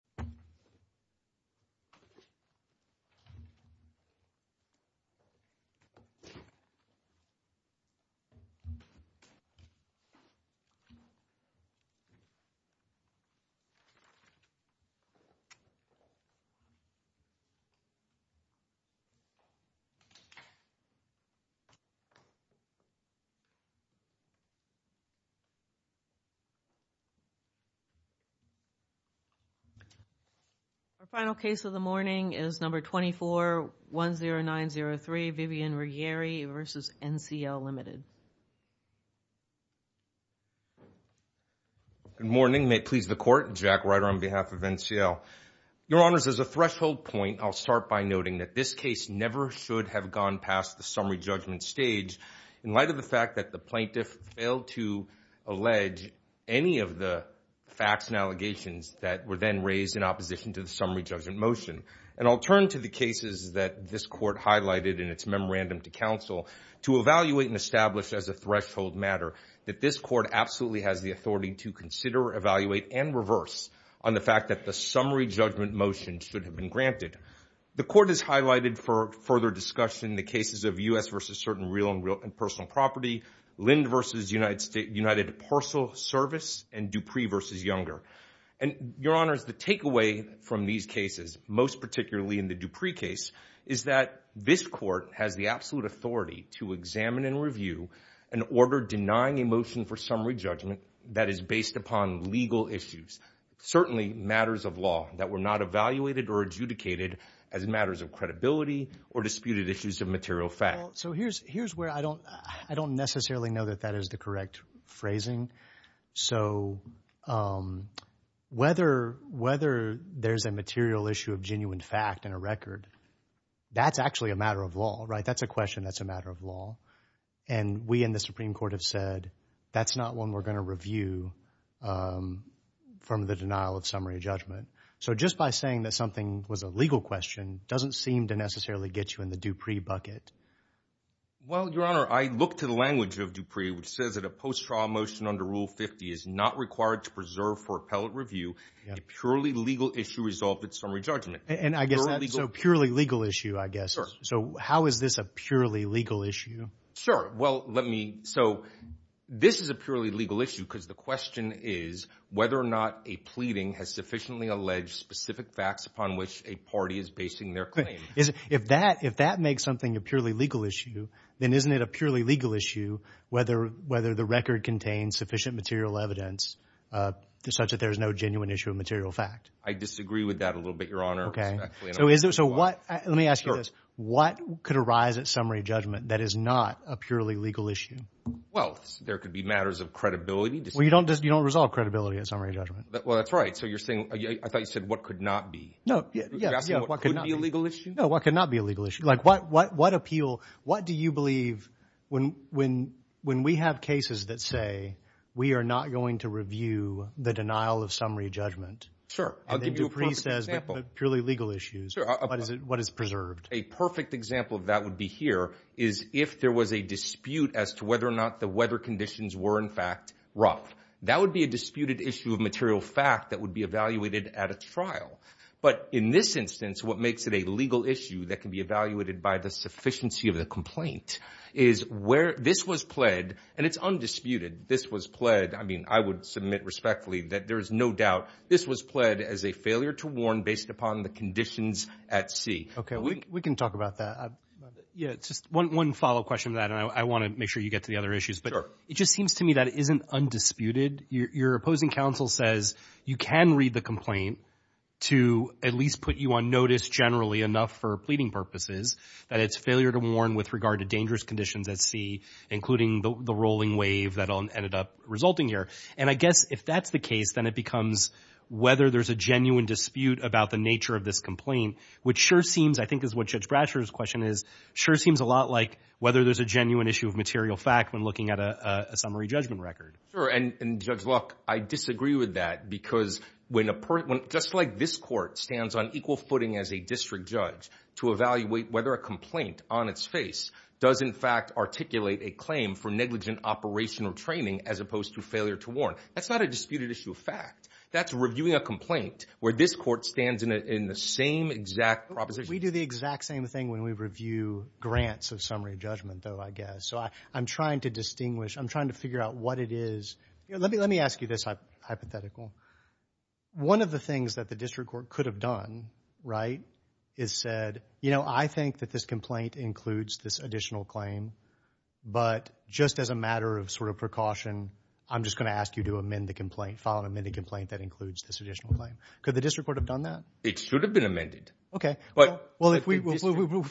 V. Public Service of the United States of America, Our final case of the morning is number 2410903, Vivian Ruggieri v. NCL Ltd. Good morning. May it please the Court? Jack Ryder on behalf of NCL. Your Honors, as a threshold point, I'll start by noting that this case never should have gone past the summary judgment stage in light of the fact that the plaintiff failed to allege any of the facts and allegations that were then raised in opposition to the summary judgment motion. And I'll turn to the cases that this Court highlighted in its memorandum to counsel to evaluate and establish as a threshold matter that this Court absolutely has the authority to consider, evaluate, and reverse on the fact that the summary judgment motion should have been granted. The Court has highlighted for further discussion the cases of U.S. v. Certain Real and Personal Property, Lind v. United Parcel Service, and Dupree v. Younger. And, Your Honors, the takeaway from these cases, most particularly in the Dupree case, is that this Court has the absolute authority to examine and review an order denying a motion for summary judgment that is based upon legal issues, certainly matters of law that were not evaluated or adjudicated as matters of credibility or disputed issues of material fact. Well, so here's where I don't necessarily know that that is the correct phrasing. So whether there's a material issue of genuine fact in a record, that's actually a matter of law, right? That's a question that's a matter of law. And we in the Supreme Court have said that's not one we're going to review from the denial of summary judgment. So just by saying that something was a legal question doesn't seem to necessarily get you in the Dupree bucket. Well, Your Honor, I look to the language of Dupree which says that a post-trial motion under Rule 50 is not required to preserve for appellate review a purely legal issue resolved at summary judgment. So purely legal issue, I guess. So how is this a purely legal issue? So this is a purely legal issue because the question is whether or not a pleading has sufficiently alleged specific facts upon which a party is basing their claim. If that makes something a purely legal issue, then isn't it a purely legal issue whether the record contains sufficient material evidence such that there's no genuine issue of material fact? I disagree with that a little bit, Your Honor. Let me ask you this. What could arise at summary judgment that is not a purely legal issue? Well, there could be matters of credibility. Well, you don't resolve credibility at summary judgment. Well, that's right. So you're saying... I thought you said what could not be. You're asking what could be a legal issue? No, what could not be a legal issue. What do you believe when we have cases that say we are not going to review the denial of summary judgment and then Dupree says they're purely legal issues, what is preserved? A perfect example of that would be here is if there was a dispute as to whether or not the weather conditions were in fact rough. That would be a disputed issue of material fact that would be evaluated at a trial. But in this instance, what makes it a legal issue that can be evaluated by the sufficiency of the complaint is where this was pled, and it's undisputed, this was pled, I mean, I would submit respectfully that there is no doubt this was pled as a failure to warn based upon the conditions at sea. Okay, we can talk about that. One follow-up question to that, and I want to make sure you get to the other issues. It just seems to me that it isn't undisputed. Your opposing counsel says you can read the complaint to at least put you on notice generally enough for pleading purposes that it's failure to warn with regard to dangerous conditions at sea, including the rolling wave that ended up resulting here. And I guess if that's the case, then it becomes whether there's a genuine dispute about the nature of this complaint, which sure seems, I think is what Judge Bradsher's question is, sure seems a lot like whether there's a genuine issue of material fact when looking at a summary judgment record. Sure, and Judge Luck, I disagree with that because just like this court stands on equal footing as a district judge to evaluate whether a complaint on its face does in fact articulate a claim for negligent operational training as opposed to failure to warn, that's not a disputed issue of fact. That's reviewing a complaint where this court stands in the same exact proposition. We do the exact same thing when we review grants of summary judgment though, I guess. So I'm trying to distinguish. I'm trying to figure out what it is. Let me ask you this hypothetical. One of the things that the district court could have done is said, you know, I think that this complaint includes this additional claim, but just as a matter of sort of precaution, I'm just going to ask you to amend the complaint, file an amended complaint that includes this additional claim. Could the district court have done that? It should have been amended. Well, if we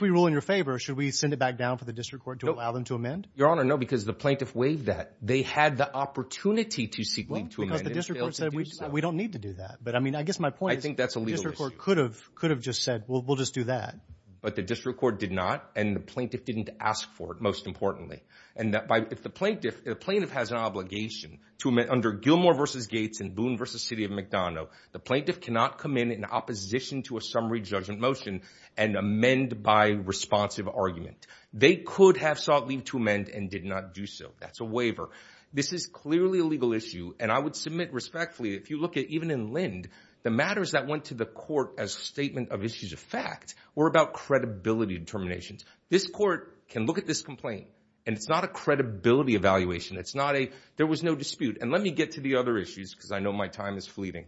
rule in your favor, should we send it back down for the district court to allow them to amend? Your Honor, no, because the plaintiff waived that. They had the opportunity to seek leave to amend it. Well, because the district court said we don't need to do that. I think that's a legal issue. The district court could have just said, well, we'll just do that. But the district court did not, and the plaintiff didn't ask for it, most importantly. And if the plaintiff has an obligation under Gilmore v. Gates and Boone v. City of McDonough, the plaintiff cannot come in in opposition to a summary judgment motion and amend by responsive argument. They could have sought leave to amend and did not do so. That's a waiver. This is clearly a legal issue, and I would submit respectfully if you look at even in Lind, the matters that went to the court as a statement of issues of fact were about credibility determinations. This court can look at this complaint, and it's not a credibility evaluation. There was no dispute. And let me get to the other issues, because I know my time is fleeting.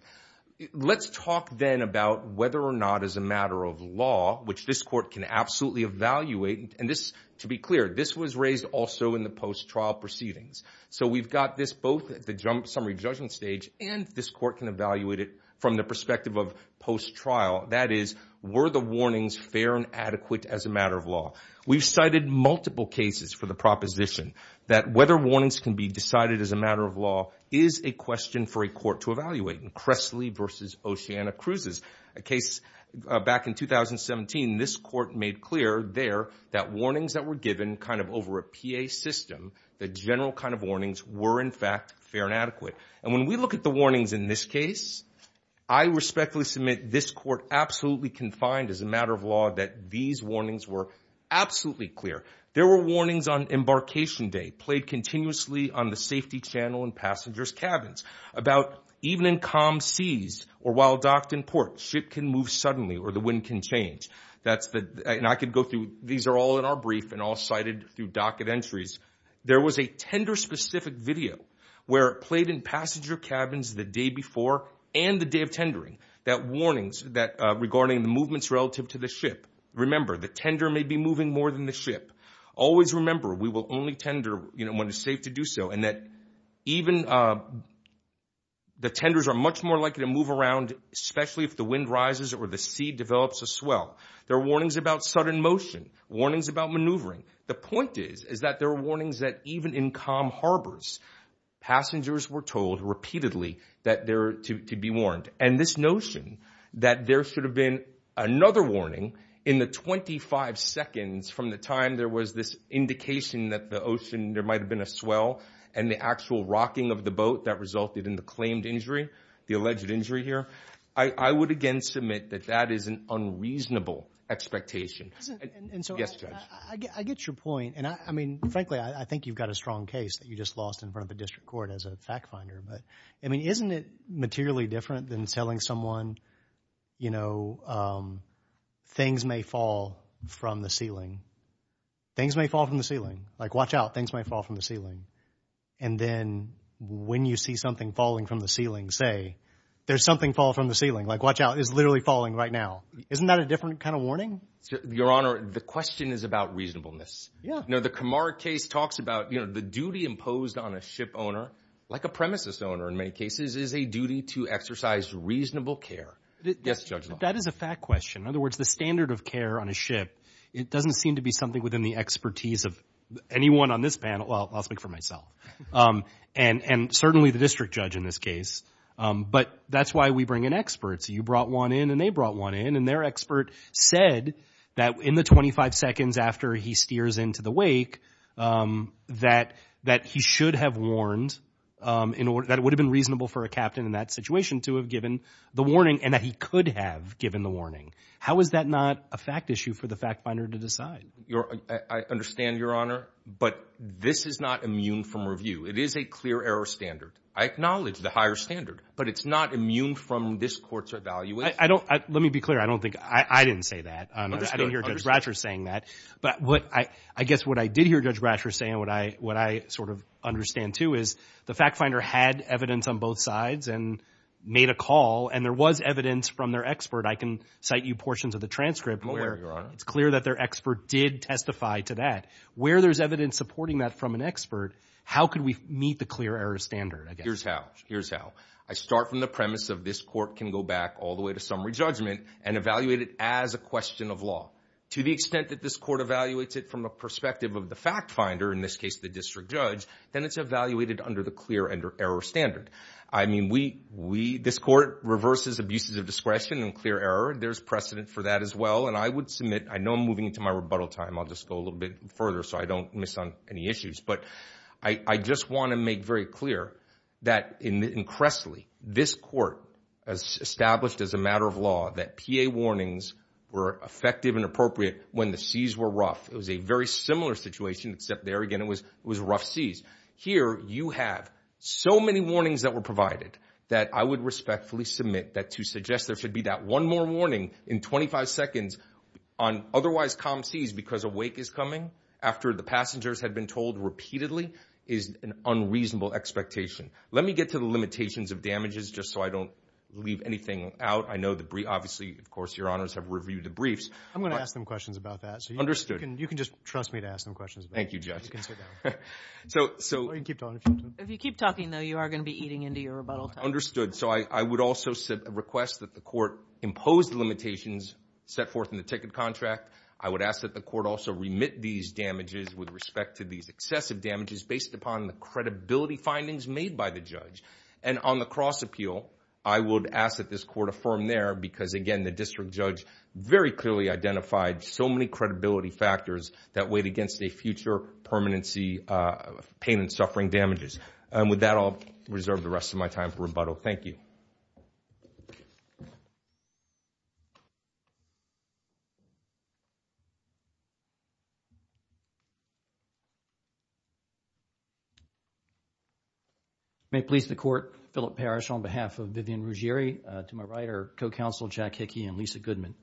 Let's talk then about whether or not as a matter of law, which this court can absolutely evaluate, and to be clear, this was raised also in the post-trial proceedings. So we've got this both at the summary judgment stage and this court can evaluate it from the perspective of post-trial. That is, were the warnings fair and adequate as a matter of law? We've cited multiple cases for the proposition that whether warnings can be decided as a matter of law is a question for a court to evaluate in Cressley v. Oceana Cruises, a case back in 2017. This court made clear there that warnings that were given kind of over a PA system, the general kind of warnings, were in fact fair and adequate. And when we look at the warnings in this case, I respectfully submit this court absolutely confined as a matter of law that these warnings were absolutely clear. There were warnings on embarkation day played continuously on the safety channel in passengers' cabins about even in calm seas or while docked in port, ship can move suddenly or the wind can change. These are all in our brief and all cited through docket entries. There was a tender-specific video where it played in passenger cabins the day before and the day of tendering that warnings regarding the movements relative to the ship. Remember, the tender may be moving more than the ship. Always remember, we will only tender when it's safe to do so and that even the tenders are much more likely to move around, especially if the wind rises or the sea develops a swell. There are warnings about sudden motion, warnings about maneuvering. The point is that there are warnings that even in calm harbors, passengers were told repeatedly that they're to be warned. And this notion that there should have been another warning in the 25 seconds from the time there was this indication that the ocean, there might have been a swell and the actual rocking of the boat that resulted in the claimed injury, the alleged injury here, I would again submit that that is an unreasonable expectation. Yes, Judge. I get your point. And I mean, frankly, I think you've got a strong case that you just lost in front of the district court as a fact finder. But, I mean, isn't it materially different than telling someone, you know, things may fall from the ceiling? Things may fall from the ceiling. Like, watch out, things might fall from the ceiling. And then when you see something falling from the ceiling, say, there's something fall from the ceiling. Like, watch out, it's literally falling right now. Isn't that a different kind of warning? Your Honor, the question is about reasonableness. Yeah. You know, the Kamar case talks about, you know, the duty imposed on a ship owner, like a premises owner in many cases, is a duty to exercise reasonable care. Yes, Judge. That is a fact question. In other words, the standard of care on a ship, it doesn't seem to be something within the expertise of anyone on this panel. Well, I'll speak for myself. And certainly the district judge in this case. But that's why we bring in experts. You brought one in and they brought one in. And their expert said that in the 25 seconds after he steers into the wake, that he should have warned, that it would have been reasonable for a captain in that situation to have given the warning and that he could have given the warning. How is that not a fact issue for the fact finder to decide? I understand, Your Honor. But this is not immune from review. It is a clear error standard. I acknowledge the higher standard. But it's not immune from this court's evaluation. Let me be clear. I didn't say that. I didn't hear Judge Bratcher saying that. But I guess what I did hear Judge Bratcher saying, what I sort of understand, too, is the fact finder had evidence on both sides and made a call. And there was evidence from their expert. I can cite you portions of the transcript where it's clear that their expert did testify to that. Where there's evidence supporting that from an expert, how could we meet the clear error standard, I guess? Here's how. Here's how. I start from the premise of this court can go back all the way to summary judgment and evaluate it as a question of law. To the extent that this court evaluates it from a perspective of the fact finder, in this case the district judge, then it's evaluated under the clear error standard. I mean, this court reverses abuses of discretion and clear error. There's precedent for that as well. And I would submit, I know I'm moving into my rebuttal time. I'll just go a little bit further so I don't miss on any issues. But I just want to make very clear that in Cressley, this court established as a matter of law that PA warnings were effective and appropriate when the C's were rough. It was a very similar situation, except there again it was rough C's. Here you have so many warnings that were provided that I would respectfully submit that to suggest there should be that one more warning in 25 seconds on otherwise calm C's because a wake is coming after the passengers had been told repeatedly is an unreasonable expectation. Let me get to the limitations of damages just so I don't leave anything out. I know obviously, of course, your honors have reviewed the briefs. I'm going to ask them questions about that. Understood. You can just trust me to ask them questions. Thank you, Judge. You can sit down. Or you can keep talking if you want to. If you keep talking, though, you are going to be eating into your rebuttal time. Understood. So I would also request that the court impose the limitations set forth in the ticket contract. I would ask that the court also remit these damages with respect to these excessive damages based upon the credibility findings made by the judge. And on the cross appeal, I would ask that this court affirm there because, again, the district judge very clearly identified so many credibility factors that weighed against a future permanency pain and suffering damages. And with that, I'll reserve the rest of my time for rebuttal. Thank you. May it please the court, Philip Parrish on behalf of Vivian Ruggieri, to my right are co-counsel Jack Hickey and Lisa Goodman.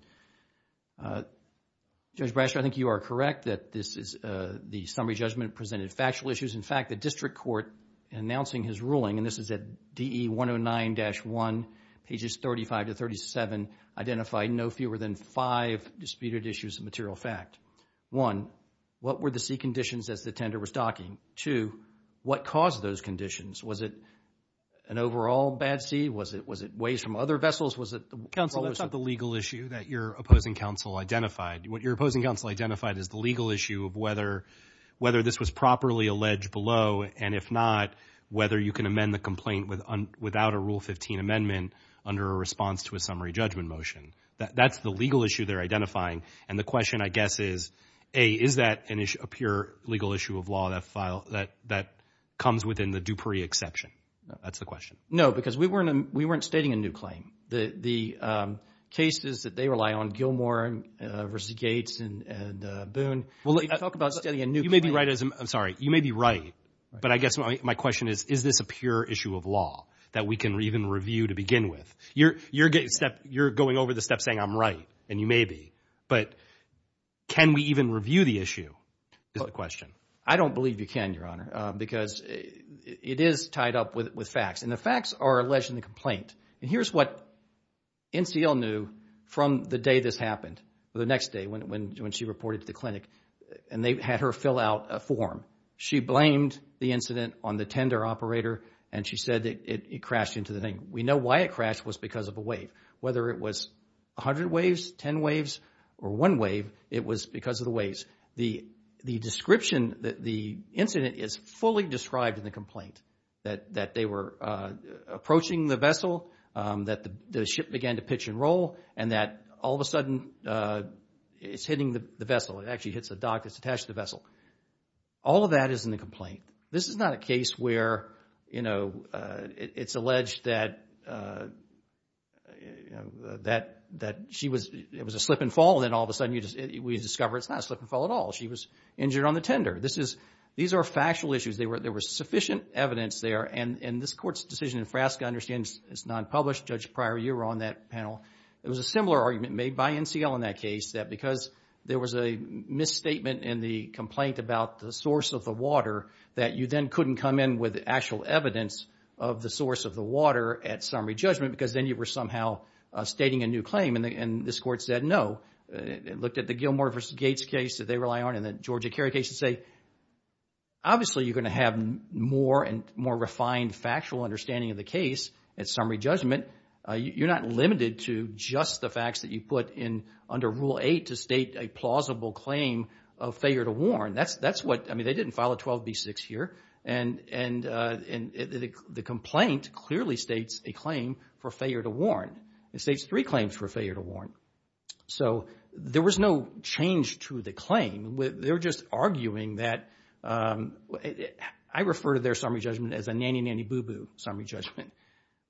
Judge Brasher, I think you are correct that the summary judgment presented factual issues. In fact, the district court announcing his ruling, and this is at DE 109-1, pages 35-37 identify no fewer than five disputed issues of material fact. One, what were the sea conditions as the tender was docking? Two, what caused those conditions? Was it an overall bad sea? Was it waves from other vessels? Counsel, that's not the legal issue that your opposing counsel identified. What your opposing counsel identified is the legal issue of whether this was properly alleged below, and if not, whether you can amend the complaint without a Rule 15 amendment under a response to a summary judgment motion. That's the legal issue they're identifying. And the question, I guess, is, A, is that a pure legal issue of law that comes within the Dupree exception? That's the question. No, because we weren't stating a new claim. The cases that they rely on, Gilmore v. Gates and Boone, talk about stating a new claim. You may be right. I'm sorry. My question is, is this a pure issue of law that we can even review to begin with? You're going over the steps saying I'm right, and you may be. But can we even review the issue is the question. I don't believe you can, Your Honor, because it is tied up with facts. And the facts are alleged in the complaint. And here's what NCL knew from the day this happened, or the next day when she reported to the clinic, and they had her fill out a form. She blamed the incident on the tender operator, and she said it crashed into the thing. We know why it crashed was because of a wave. Whether it was 100 waves, 10 waves, or one wave, it was because of the waves. The description that the incident is fully described in the complaint, that they were approaching the vessel, that the ship began to pitch and roll, and that all of a sudden it's hitting the vessel. It actually hits the dock that's attached to the vessel. All of that is in the complaint. This is not a case where it's alleged that it was a slip and fall, and then all of a sudden we discover it's not a slip and fall at all. She was injured on the tender. These are factual issues. There was sufficient evidence there, and this Court's decision in Frasca understands it's non-published. Judge Pryor, you were on that panel. There was a similar argument made by NCL in that case, that because there was a misstatement in the complaint about the source of the water, that you then couldn't come in with actual evidence of the source of the water at summary judgment, because then you were somehow stating a new claim, and this Court said no. It looked at the Gilmore v. Gates case that they rely on and the Georgia Kerry case to say, obviously you're going to have more and more refined factual understanding of the case at summary judgment. You're not limited to just the facts that you put under Rule 8 to state a plausible claim of failure to warn. That's what, I mean, they didn't file a 12B6 here, and the complaint clearly states a claim for failure to warn. It states three claims for failure to warn. So there was no change to the claim. They were just arguing that, I refer to their summary judgment as a nanny-nanny-boo-boo summary judgment.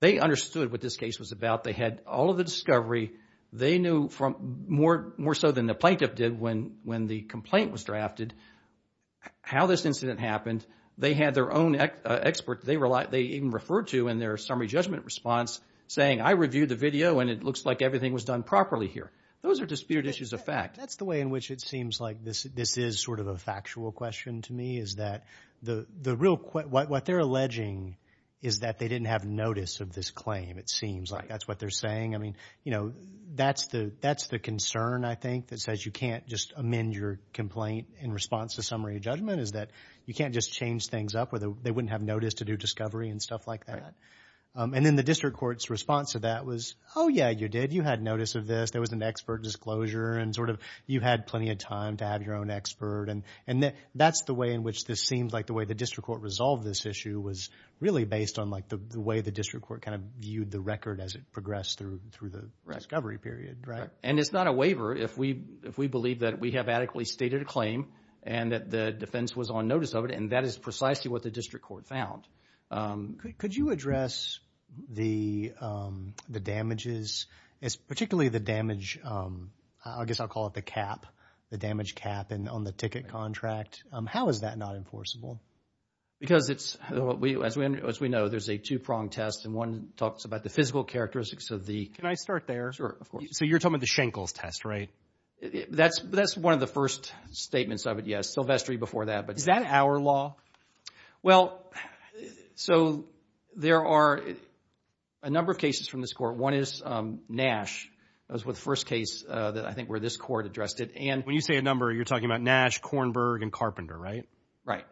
They understood what this case was about. They had all of the discovery. They knew more so than the plaintiff did when the complaint was drafted how this incident happened. They had their own expert they even referred to in their summary judgment response saying, I reviewed the video, and it looks like everything was done properly here. Those are disputed issues of fact. That's the way in which it seems like this is sort of a factual question to me, is that what they're alleging is that they didn't have notice of this claim. It seems like that's what they're saying. I mean, that's the concern, I think, that says you can't just amend your complaint in response to summary judgment is that you can't just change things up or they wouldn't have notice to do discovery and stuff like that. And then the district court's response to that was, oh, yeah, you did. You had notice of this. There was an expert disclosure, and sort of you had plenty of time to have your own expert. And that's the way in which this seems like the way the district court resolved this issue was really based on the way the district court kind of viewed the record as it progressed through the discovery period. And it's not a waiver if we believe that we have adequately stated a claim and that the defense was on notice of it, and that is precisely what the district court found. Could you address the damages, particularly the damage, I guess I'll call it the cap, the damage cap on the ticket contract? How is that not enforceable? Because it's, as we know, there's a two-prong test, and one talks about the physical characteristics of the... Can I start there? Sure, of course. So you're talking about the Schenkels test, right? That's one of the first statements of it, yes. Silvestri before that. Is that our law? Well, so there are a number of cases from this court. One is Nash. That was the first case that I think where this court addressed it. When you say a number, you're talking about Nash, Kornberg, and Carpenter, right? Right.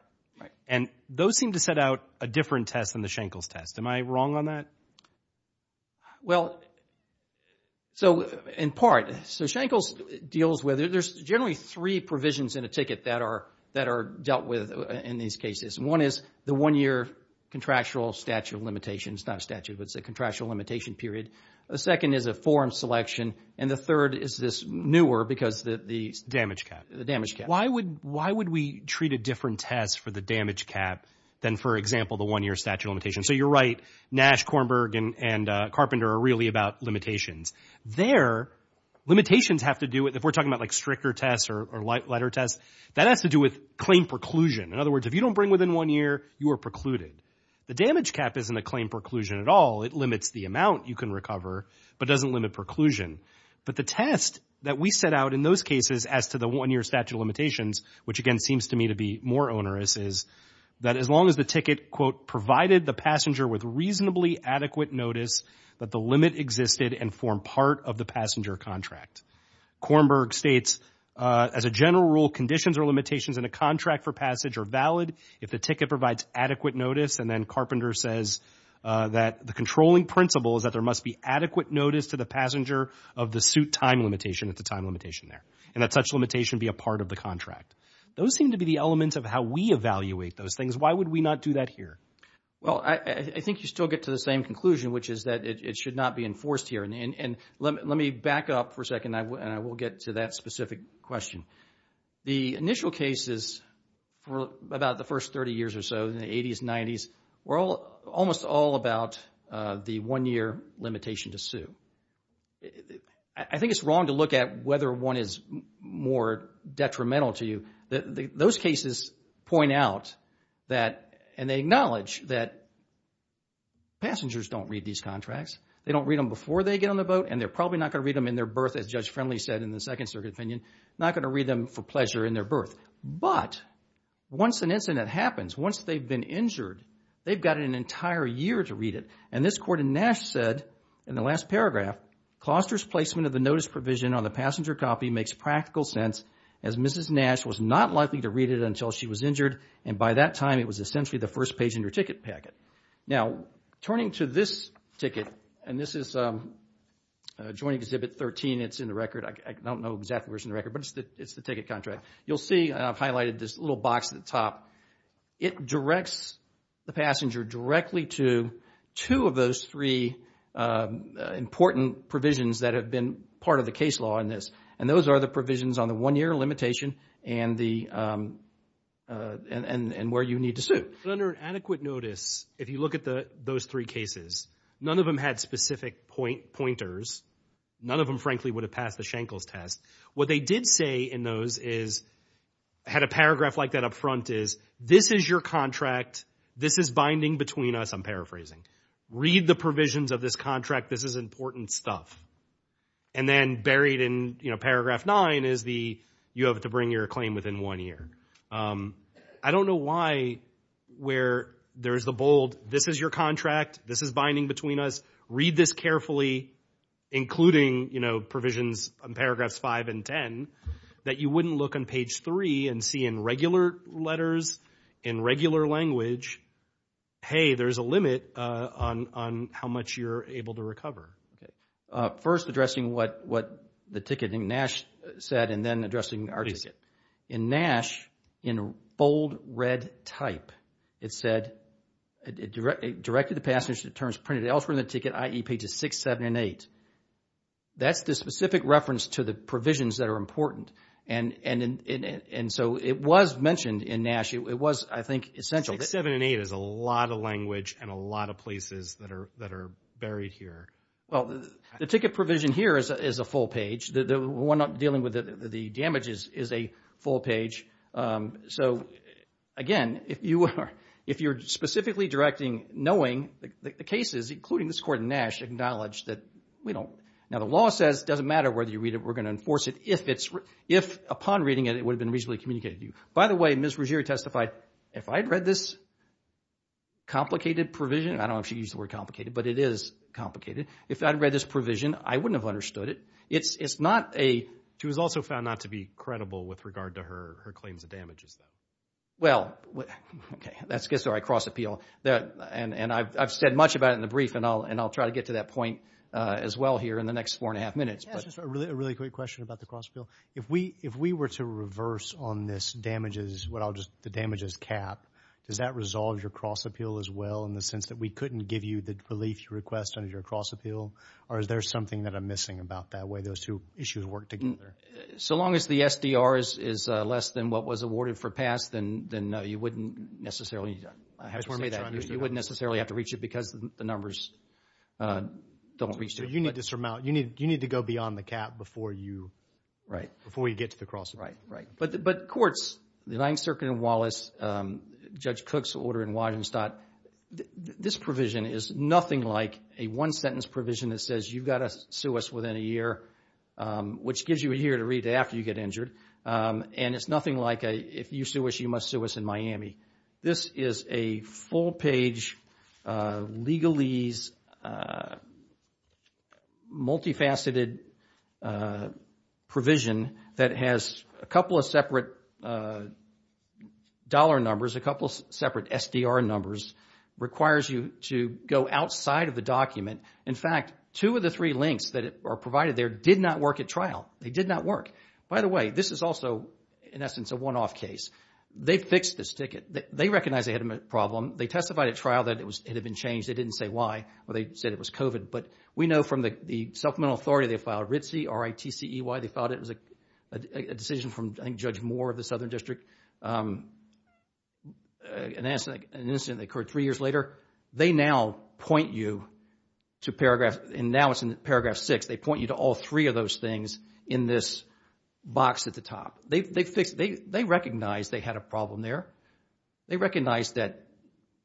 And those seem to set out a different test than the Schenkels test. Am I wrong on that? Well, so in part. So Schenkels deals with it. There's generally three provisions in a ticket that are dealt with in these cases. One is the one-year contractual statute of limitations. It's not a statute, but it's a contractual limitation period. The second is a forum selection, and the third is this newer because the damage cap. Why would we treat a different test for the damage cap than, for example, the one-year statute of limitations? So you're right. Nash, Kornberg, and Carpenter are really about limitations. Their limitations have to do with, if we're talking about like stricter tests or lighter tests, that has to do with claim preclusion. In other words, if you don't bring within one year, you are precluded. The damage cap isn't a claim preclusion at all. It limits the amount you can recover, but doesn't limit preclusion. But the test that we set out in those cases as to the one-year statute of limitations, which again seems to me to be more onerous, is that as long as the ticket, quote, provided the passenger with reasonably adequate notice that the limit existed and formed part of the passenger contract. Kornberg states, as a general rule, conditions or limitations in a contract for passage are valid if the ticket provides adequate notice, and then Carpenter says that the controlling principle is that there must be adequate notice to the passenger of the suit time limitation. It's a time limitation there. And that such limitation be a part of the contract. Those seem to be the elements of how we evaluate those things. Why would we not do that here? Well, I think you still get to the same conclusion, which is that it should not be enforced here. And let me back up for a second, and I will get to that specific question. The initial cases for about the first 30 years or so, in the 80s, 90s, were almost all about the one-year limitation to sue. I think it's wrong to look at whether one is more detrimental to you. Those cases point out that, and they acknowledge that, passengers don't read these contracts. They don't read them before they get on the boat, and they're probably not going to read them in their birth, as Judge Friendly said in the Second Circuit opinion, not going to read them for pleasure in their birth. But once an incident happens, once they've been injured, they've got an entire year to read it. And this court in Nash said, in the last paragraph, Closter's placement of the notice provision on the passenger copy makes practical sense, as Mrs. Nash was not likely to read it until she was injured, and by that time, it was essentially the first page in her ticket packet. Now, turning to this ticket, and this is Joint Exhibit 13. It's in the record. I don't know exactly where it's in the record, but it's the ticket contract. You'll see, I've highlighted this little box at the top. It directs the passenger directly to two of those three important provisions that have been part of the case law in this, and those are the provisions on the one-year limitation and where you need to sue. Under adequate notice, if you look at those three cases, none of them had specific pointers. None of them, frankly, would have passed the Shankles test. What they did say in those is, had a paragraph like that up front is, this is your contract. This is binding between us. I'm paraphrasing. Read the provisions of this contract. This is important stuff. And then buried in paragraph nine is the you have to bring your claim within one year. I don't know why where there's the bold, this is your contract. This is binding between us. Read this carefully, including provisions on paragraphs five and ten, that you wouldn't look on page three and see in regular letters, in regular language, hey, there's a limit on how much you're able to recover. First, addressing what the ticket in NASH said, and then addressing our ticket. In NASH, in bold red type, it said, directed the passenger to terms printed elsewhere in the ticket, i.e., pages six, seven, and eight. That's the specific reference to the provisions that are important. And so it was mentioned in NASH. It was, I think, essential. Six, seven, and eight is a lot of language and a lot of places that are buried here. Well, the ticket provision here is a full page. The one dealing with the damages is a full page. So, again, if you're specifically directing, knowing the cases, including this court in NASH, acknowledge that we don't. Now, the law says it doesn't matter whether you read it, we're going to enforce it if, upon reading it, it would have been reasonably communicated to you. By the way, Ms. Ruggiero testified, if I'd read this complicated provision, I don't know if she used the word complicated, but it is complicated. If I'd read this provision, I wouldn't have understood it. She was also found not to be credible with regard to her claims of damages, though. Well, okay. That gets to our cross-appeal. And I've said much about it in the brief, and I'll try to get to that point as well here in the next four and a half minutes. Just a really quick question about the cross-appeal. If we were to reverse on this damages cap, does that resolve your cross-appeal as well, in the sense that we couldn't give you the relief request under your cross-appeal? Or is there something that I'm missing about that way those two issues work together? So long as the SDR is less than what was awarded for pass, then you wouldn't necessarily have to reach it because the numbers don't reach it. So you need to go beyond the cap before you get to the cross-appeal. Right, right. But courts, the Ninth Circuit in Wallace, Judge Cook's order in Waddenstott, this provision is nothing like a one-sentence provision that says, you've got to sue us within a year, which gives you a year to read it after you get injured. And it's nothing like, if you sue us, you must sue us in Miami. This is a full-page, legalese, multifaceted provision that has a couple of separate dollar numbers, a couple of separate SDR numbers, requires you to go outside of the document. In fact, two of the three links that are provided there did not work at trial. They did not work. By the way, this is also, in essence, a one-off case. They fixed this ticket. They recognized they had a problem. They testified at trial that it had been changed. They didn't say why, or they said it was COVID. But we know from the supplemental authority, they filed RITC, R-I-T-C-E-Y. They filed it as a decision from, I think, Judge Moore of the Southern District, an incident that occurred three years later. They now point you to paragraph, and now it's in paragraph six, they point you to all three of those things in this box at the top. They recognized they had a problem there. They recognized that,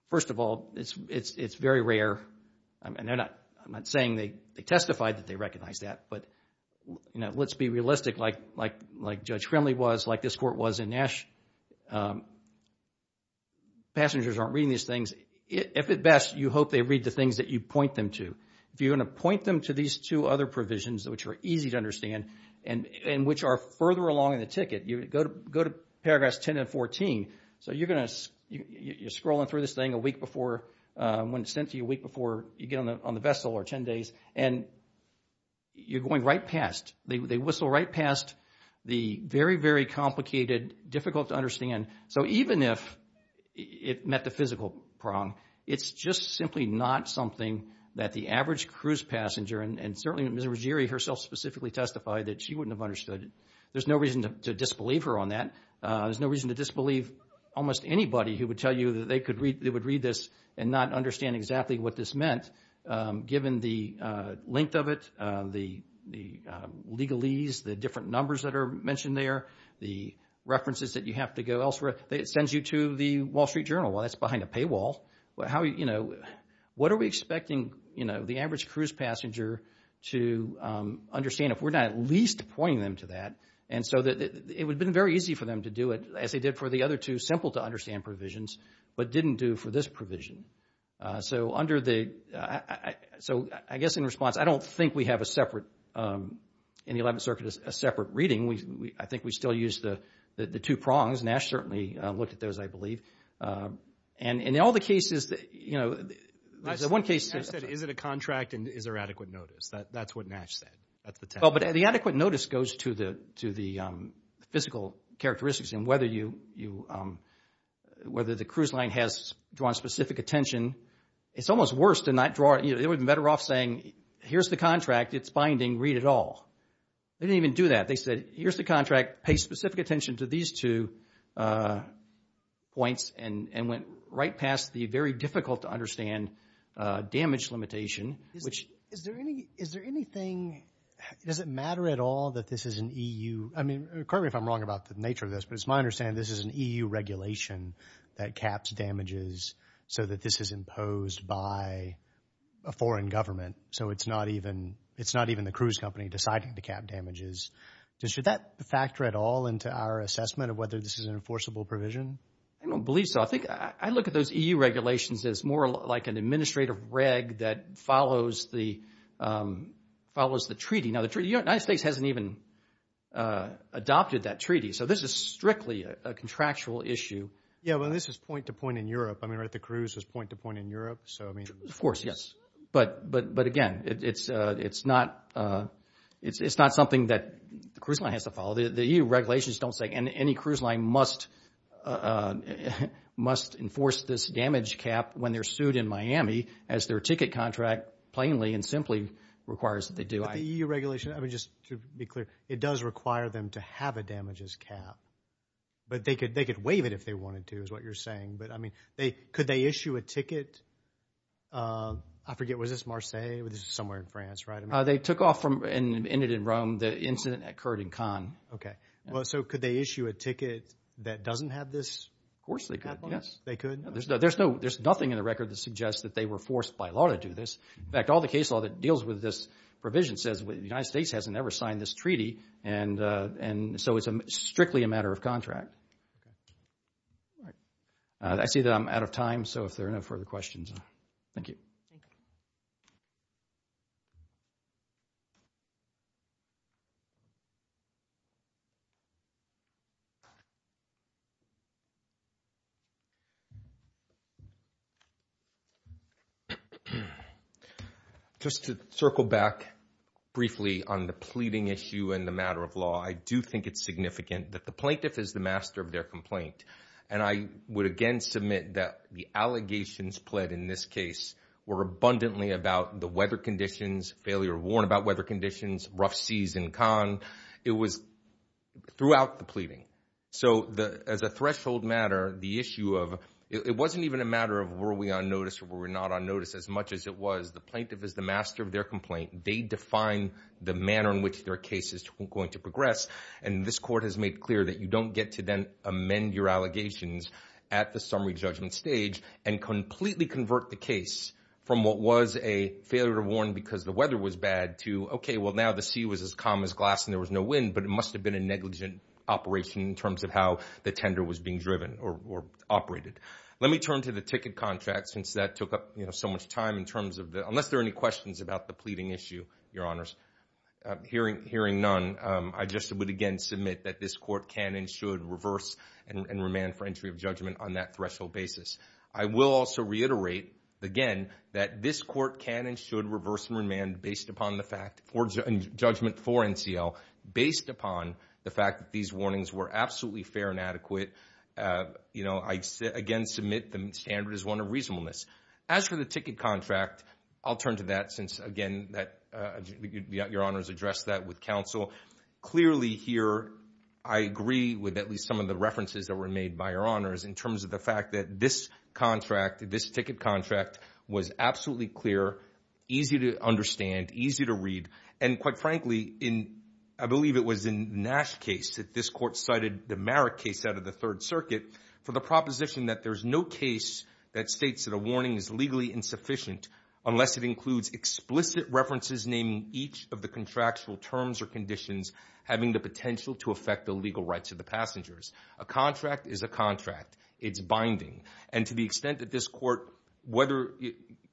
first of all, it's very rare, and I'm not saying they testified that they recognized that, but let's be realistic like Judge Crimley was, like this court was in Nash. Passengers aren't reading these things. If at best, you hope they read the things that you point them to. If you're going to point them to these two other provisions, which are easy to understand and which are further along in the ticket, go to paragraphs 10 and 14. So you're scrolling through this thing a week before, when it's sent to you a week before you get on the vessel or 10 days, and you're going right past. They whistle right past the very, very complicated, difficult to understand. So even if it met the physical prong, it's just simply not something that the average cruise passenger, and certainly Ms. Ruggieri herself specifically testified that she wouldn't have understood. There's no reason to disbelieve her on that. There's no reason to disbelieve almost anybody who would tell you that they would read this and not understand exactly what this meant, given the length of it, the legalese, the different numbers that are mentioned there, the references that you have to go elsewhere. It sends you to the Wall Street Journal. Well, that's behind a paywall. What are we expecting the average cruise passenger to understand if we're not at least pointing them to that? And so it would have been very easy for them to do it, as they did for the other two simple-to-understand provisions, but didn't do for this provision. So I guess in response, I don't think we have in the 11th Circuit a separate reading. I think we still use the two prongs. Nash certainly looked at those, I believe. And in all the cases, you know, there's one case... Nash said, is it a contract and is there adequate notice? That's what Nash said. But the adequate notice goes to the physical characteristics and whether the cruise line has drawn specific attention. It's almost worse to not draw... They were better off saying, here's the contract, it's binding, read it all. They didn't even do that. They said, here's the contract, pay specific attention to these two points and went right past the very difficult-to-understand damage limitation, which... Is there anything... Does it matter at all that this is an EU... I mean, correct me if I'm wrong about the nature of this, but it's my understanding this is an EU regulation that caps damages so that this is imposed by a foreign government. So it's not even the cruise company deciding to cap damages. Should that factor at all into our assessment of whether this is an enforceable provision? I don't believe so. I think I look at those EU regulations as more like an administrative reg that follows the treaty. Now, the United States hasn't even adopted that treaty, so this is strictly a contractual issue. Yeah, well, this is point-to-point in Europe. I mean, right, the cruise is point-to-point in Europe, so I mean... Of course, yes. But again, it's not... It's not something that the cruise line has to follow. The EU regulations don't say any cruise line must enforce this damage cap when they're sued in Miami as their ticket contract plainly and simply requires that they do. But the EU regulation, I mean, just to be clear, it does require them to have a damages cap. But they could waive it if they wanted to, is what you're saying. But, I mean, could they issue a ticket? I forget, was this Marseilles? This is somewhere in France, right? They took off and ended in Rome. The incident occurred in Cannes. Okay, well, so could they issue a ticket that doesn't have this cap on it? Of course they could, yes. They could? There's nothing in the record that suggests that they were forced by law to do this. In fact, all the case law that deals with this provision says the United States hasn't ever signed this treaty, and so it's strictly a matter of contract. I see that I'm out of time, so if there are no further questions, thank you. Thank you. Just to circle back briefly on the pleading issue and the matter of law, I do think it's significant that the plaintiff is the master of their complaint. And I would again submit that the allegations pled in this case were abundantly about the weather conditions, failure to warn about weather conditions, rough seas in Cannes. It was throughout the pleading. So as a threshold matter, the issue of, it wasn't even a matter of were we on notice or were we not on notice. As much as it was, the plaintiff is the master of their complaint. They define the manner in which their case is going to progress, and this court has made clear that you don't get to then amend your allegations at the summary judgment stage and completely convert the case from what was a failure to warn because the weather was bad to, okay, well now the sea was as calm as glass and there was no wind, but it must have been a negligent operation in terms of how the tender was being driven or operated. Let me turn to the ticket contract, since that took up so much time in terms of the, unless there are any questions about the pleading issue, Your Honors. Hearing none, I just would again submit that this court can and should reverse and remand for entry of judgment on that threshold basis. I will also reiterate, again, that this court can and should reverse and remand based upon the fact, or judgment for NCL, based upon the fact that these warnings were absolutely fair and adequate. You know, I again submit the standard is one of reasonableness. As for the ticket contract, I'll turn to that since, again, Your Honors addressed that with counsel. Clearly here I agree with at least some of the references that were made by Your Honors in terms of the fact that this contract, this ticket contract, was absolutely clear, easy to understand, easy to read, and quite frankly, I believe it was in Nash's case that this court cited the Merrick case out of the Third Circuit for the proposition that there's no case that states that a warning is legally insufficient unless it includes explicit references naming each of the contractual terms or conditions having the potential to affect the legal rights of the passengers. A contract is a contract. It's binding. And to the extent that this court, whether,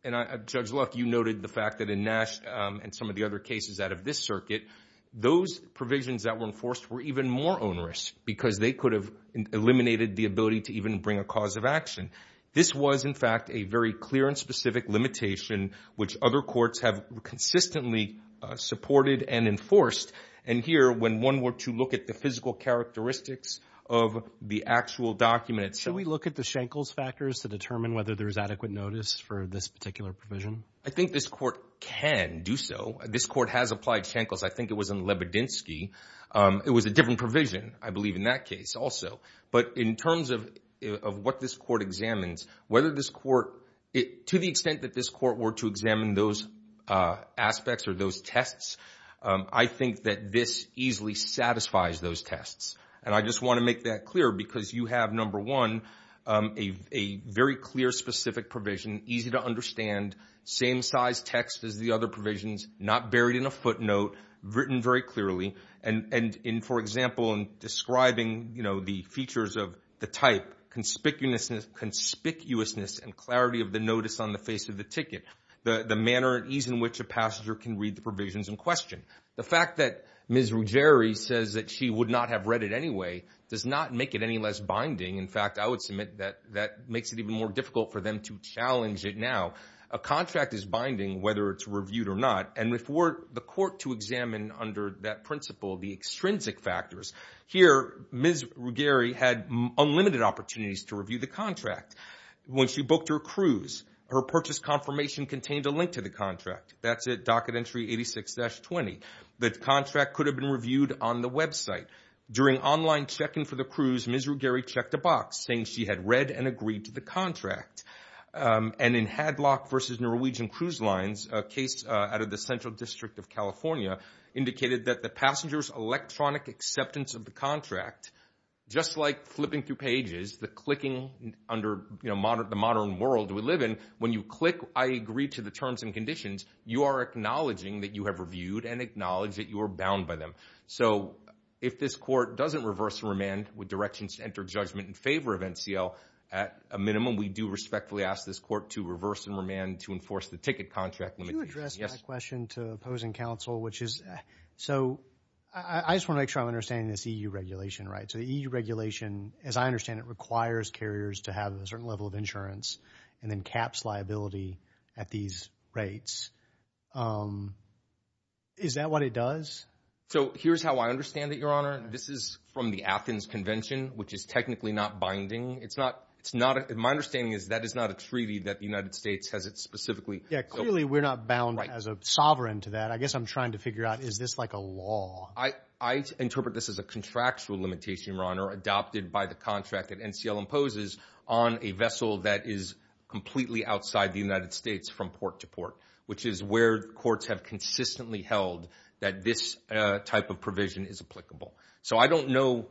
and Judge Luck, you noted the fact that in Nash and some of the other cases out of this circuit, those provisions that were enforced were even more onerous because they could have eliminated the ability to even bring a cause of action. This was, in fact, a very clear and specific limitation which other courts have consistently supported and enforced. And here, when one were to look at the physical characteristics of the actual document... Should we look at the Schenkels factors to determine whether there's adequate notice for this particular provision? I think this court can do so. This court has applied Schenkels. I think it was in Lebedinsky. It was a different provision, I believe, in that case also. But in terms of what this court examines, whether this court... To the extent that this court were to examine those aspects or those tests, I think that this easily satisfies those tests. And I just want to make that clear because you have, number one, a very clear, specific provision, easy to understand, same-size text as the other provisions, not buried in a footnote, written very clearly, and, for example, describing the features of the type, conspicuousness and clarity of the notice on the face of the ticket, the manner and ease in which a passenger can read the provisions in question. The fact that Ms. Ruggieri says that she would not have read it anyway does not make it any less binding. In fact, I would submit that that makes it even more difficult for them to challenge it now. A contract is binding whether it's reviewed or not. And for the court to examine under that principle the extrinsic factors, here Ms. Ruggieri had unlimited opportunities to review the contract. When she booked her cruise, her purchase confirmation contained a link to the contract. That's at docket entry 86-20. The contract could have been reviewed on the website. During online check-in for the cruise, Ms. Ruggieri checked a box, saying she had read and agreed to the contract. And in Hadlock v. Norwegian Cruise Lines, a case out of the Central District of California, indicated that the passenger's electronic acceptance of the contract, just like flipping through pages, the clicking under the modern world we live in, when you click, I agree to the terms and conditions, you are acknowledging that you have reviewed and acknowledge that you are bound by them. So if this court doesn't reverse and remand with directions to enter judgment in favor of NCL, at a minimum we do respectfully ask this court to reverse and remand to enforce the ticket contract limitations. Could you address my question to opposing counsel, which is, so I just want to make sure I'm understanding this EU regulation, right? So the EU regulation, as I understand it, requires carriers to have a certain level of insurance and then caps liability at these rates. Is that what it does? So here's how I understand it, Your Honor. This is from the Athens Convention, which is technically not binding. My understanding is that is not a treaty that the United States has it specifically. Yeah, clearly we're not bound as a sovereign to that. I guess I'm trying to figure out, is this like a law? I interpret this as a contractual limitation, Your Honor, adopted by the contract that NCL imposes on a vessel that is completely outside the United States from port to port, which is where courts have consistently held that this type of provision is applicable. So I don't know,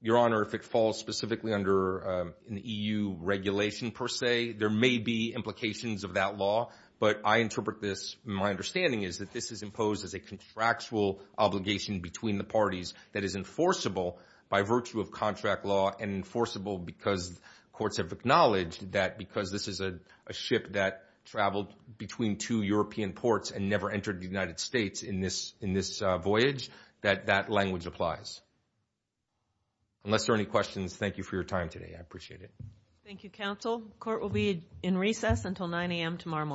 Your Honor, if it falls specifically under an EU regulation, per se. There may be implications of that law, but I interpret this, my understanding is, that this is imposed as a contractual obligation between the parties that is enforceable by virtue of contract law and enforceable because courts have acknowledged that because this is a ship that traveled between two European ports and never entered the United States in this voyage, that that language applies. Unless there are any questions, thank you for your time today. I appreciate it. Thank you, counsel. Court will be in recess until 9 a.m. tomorrow morning.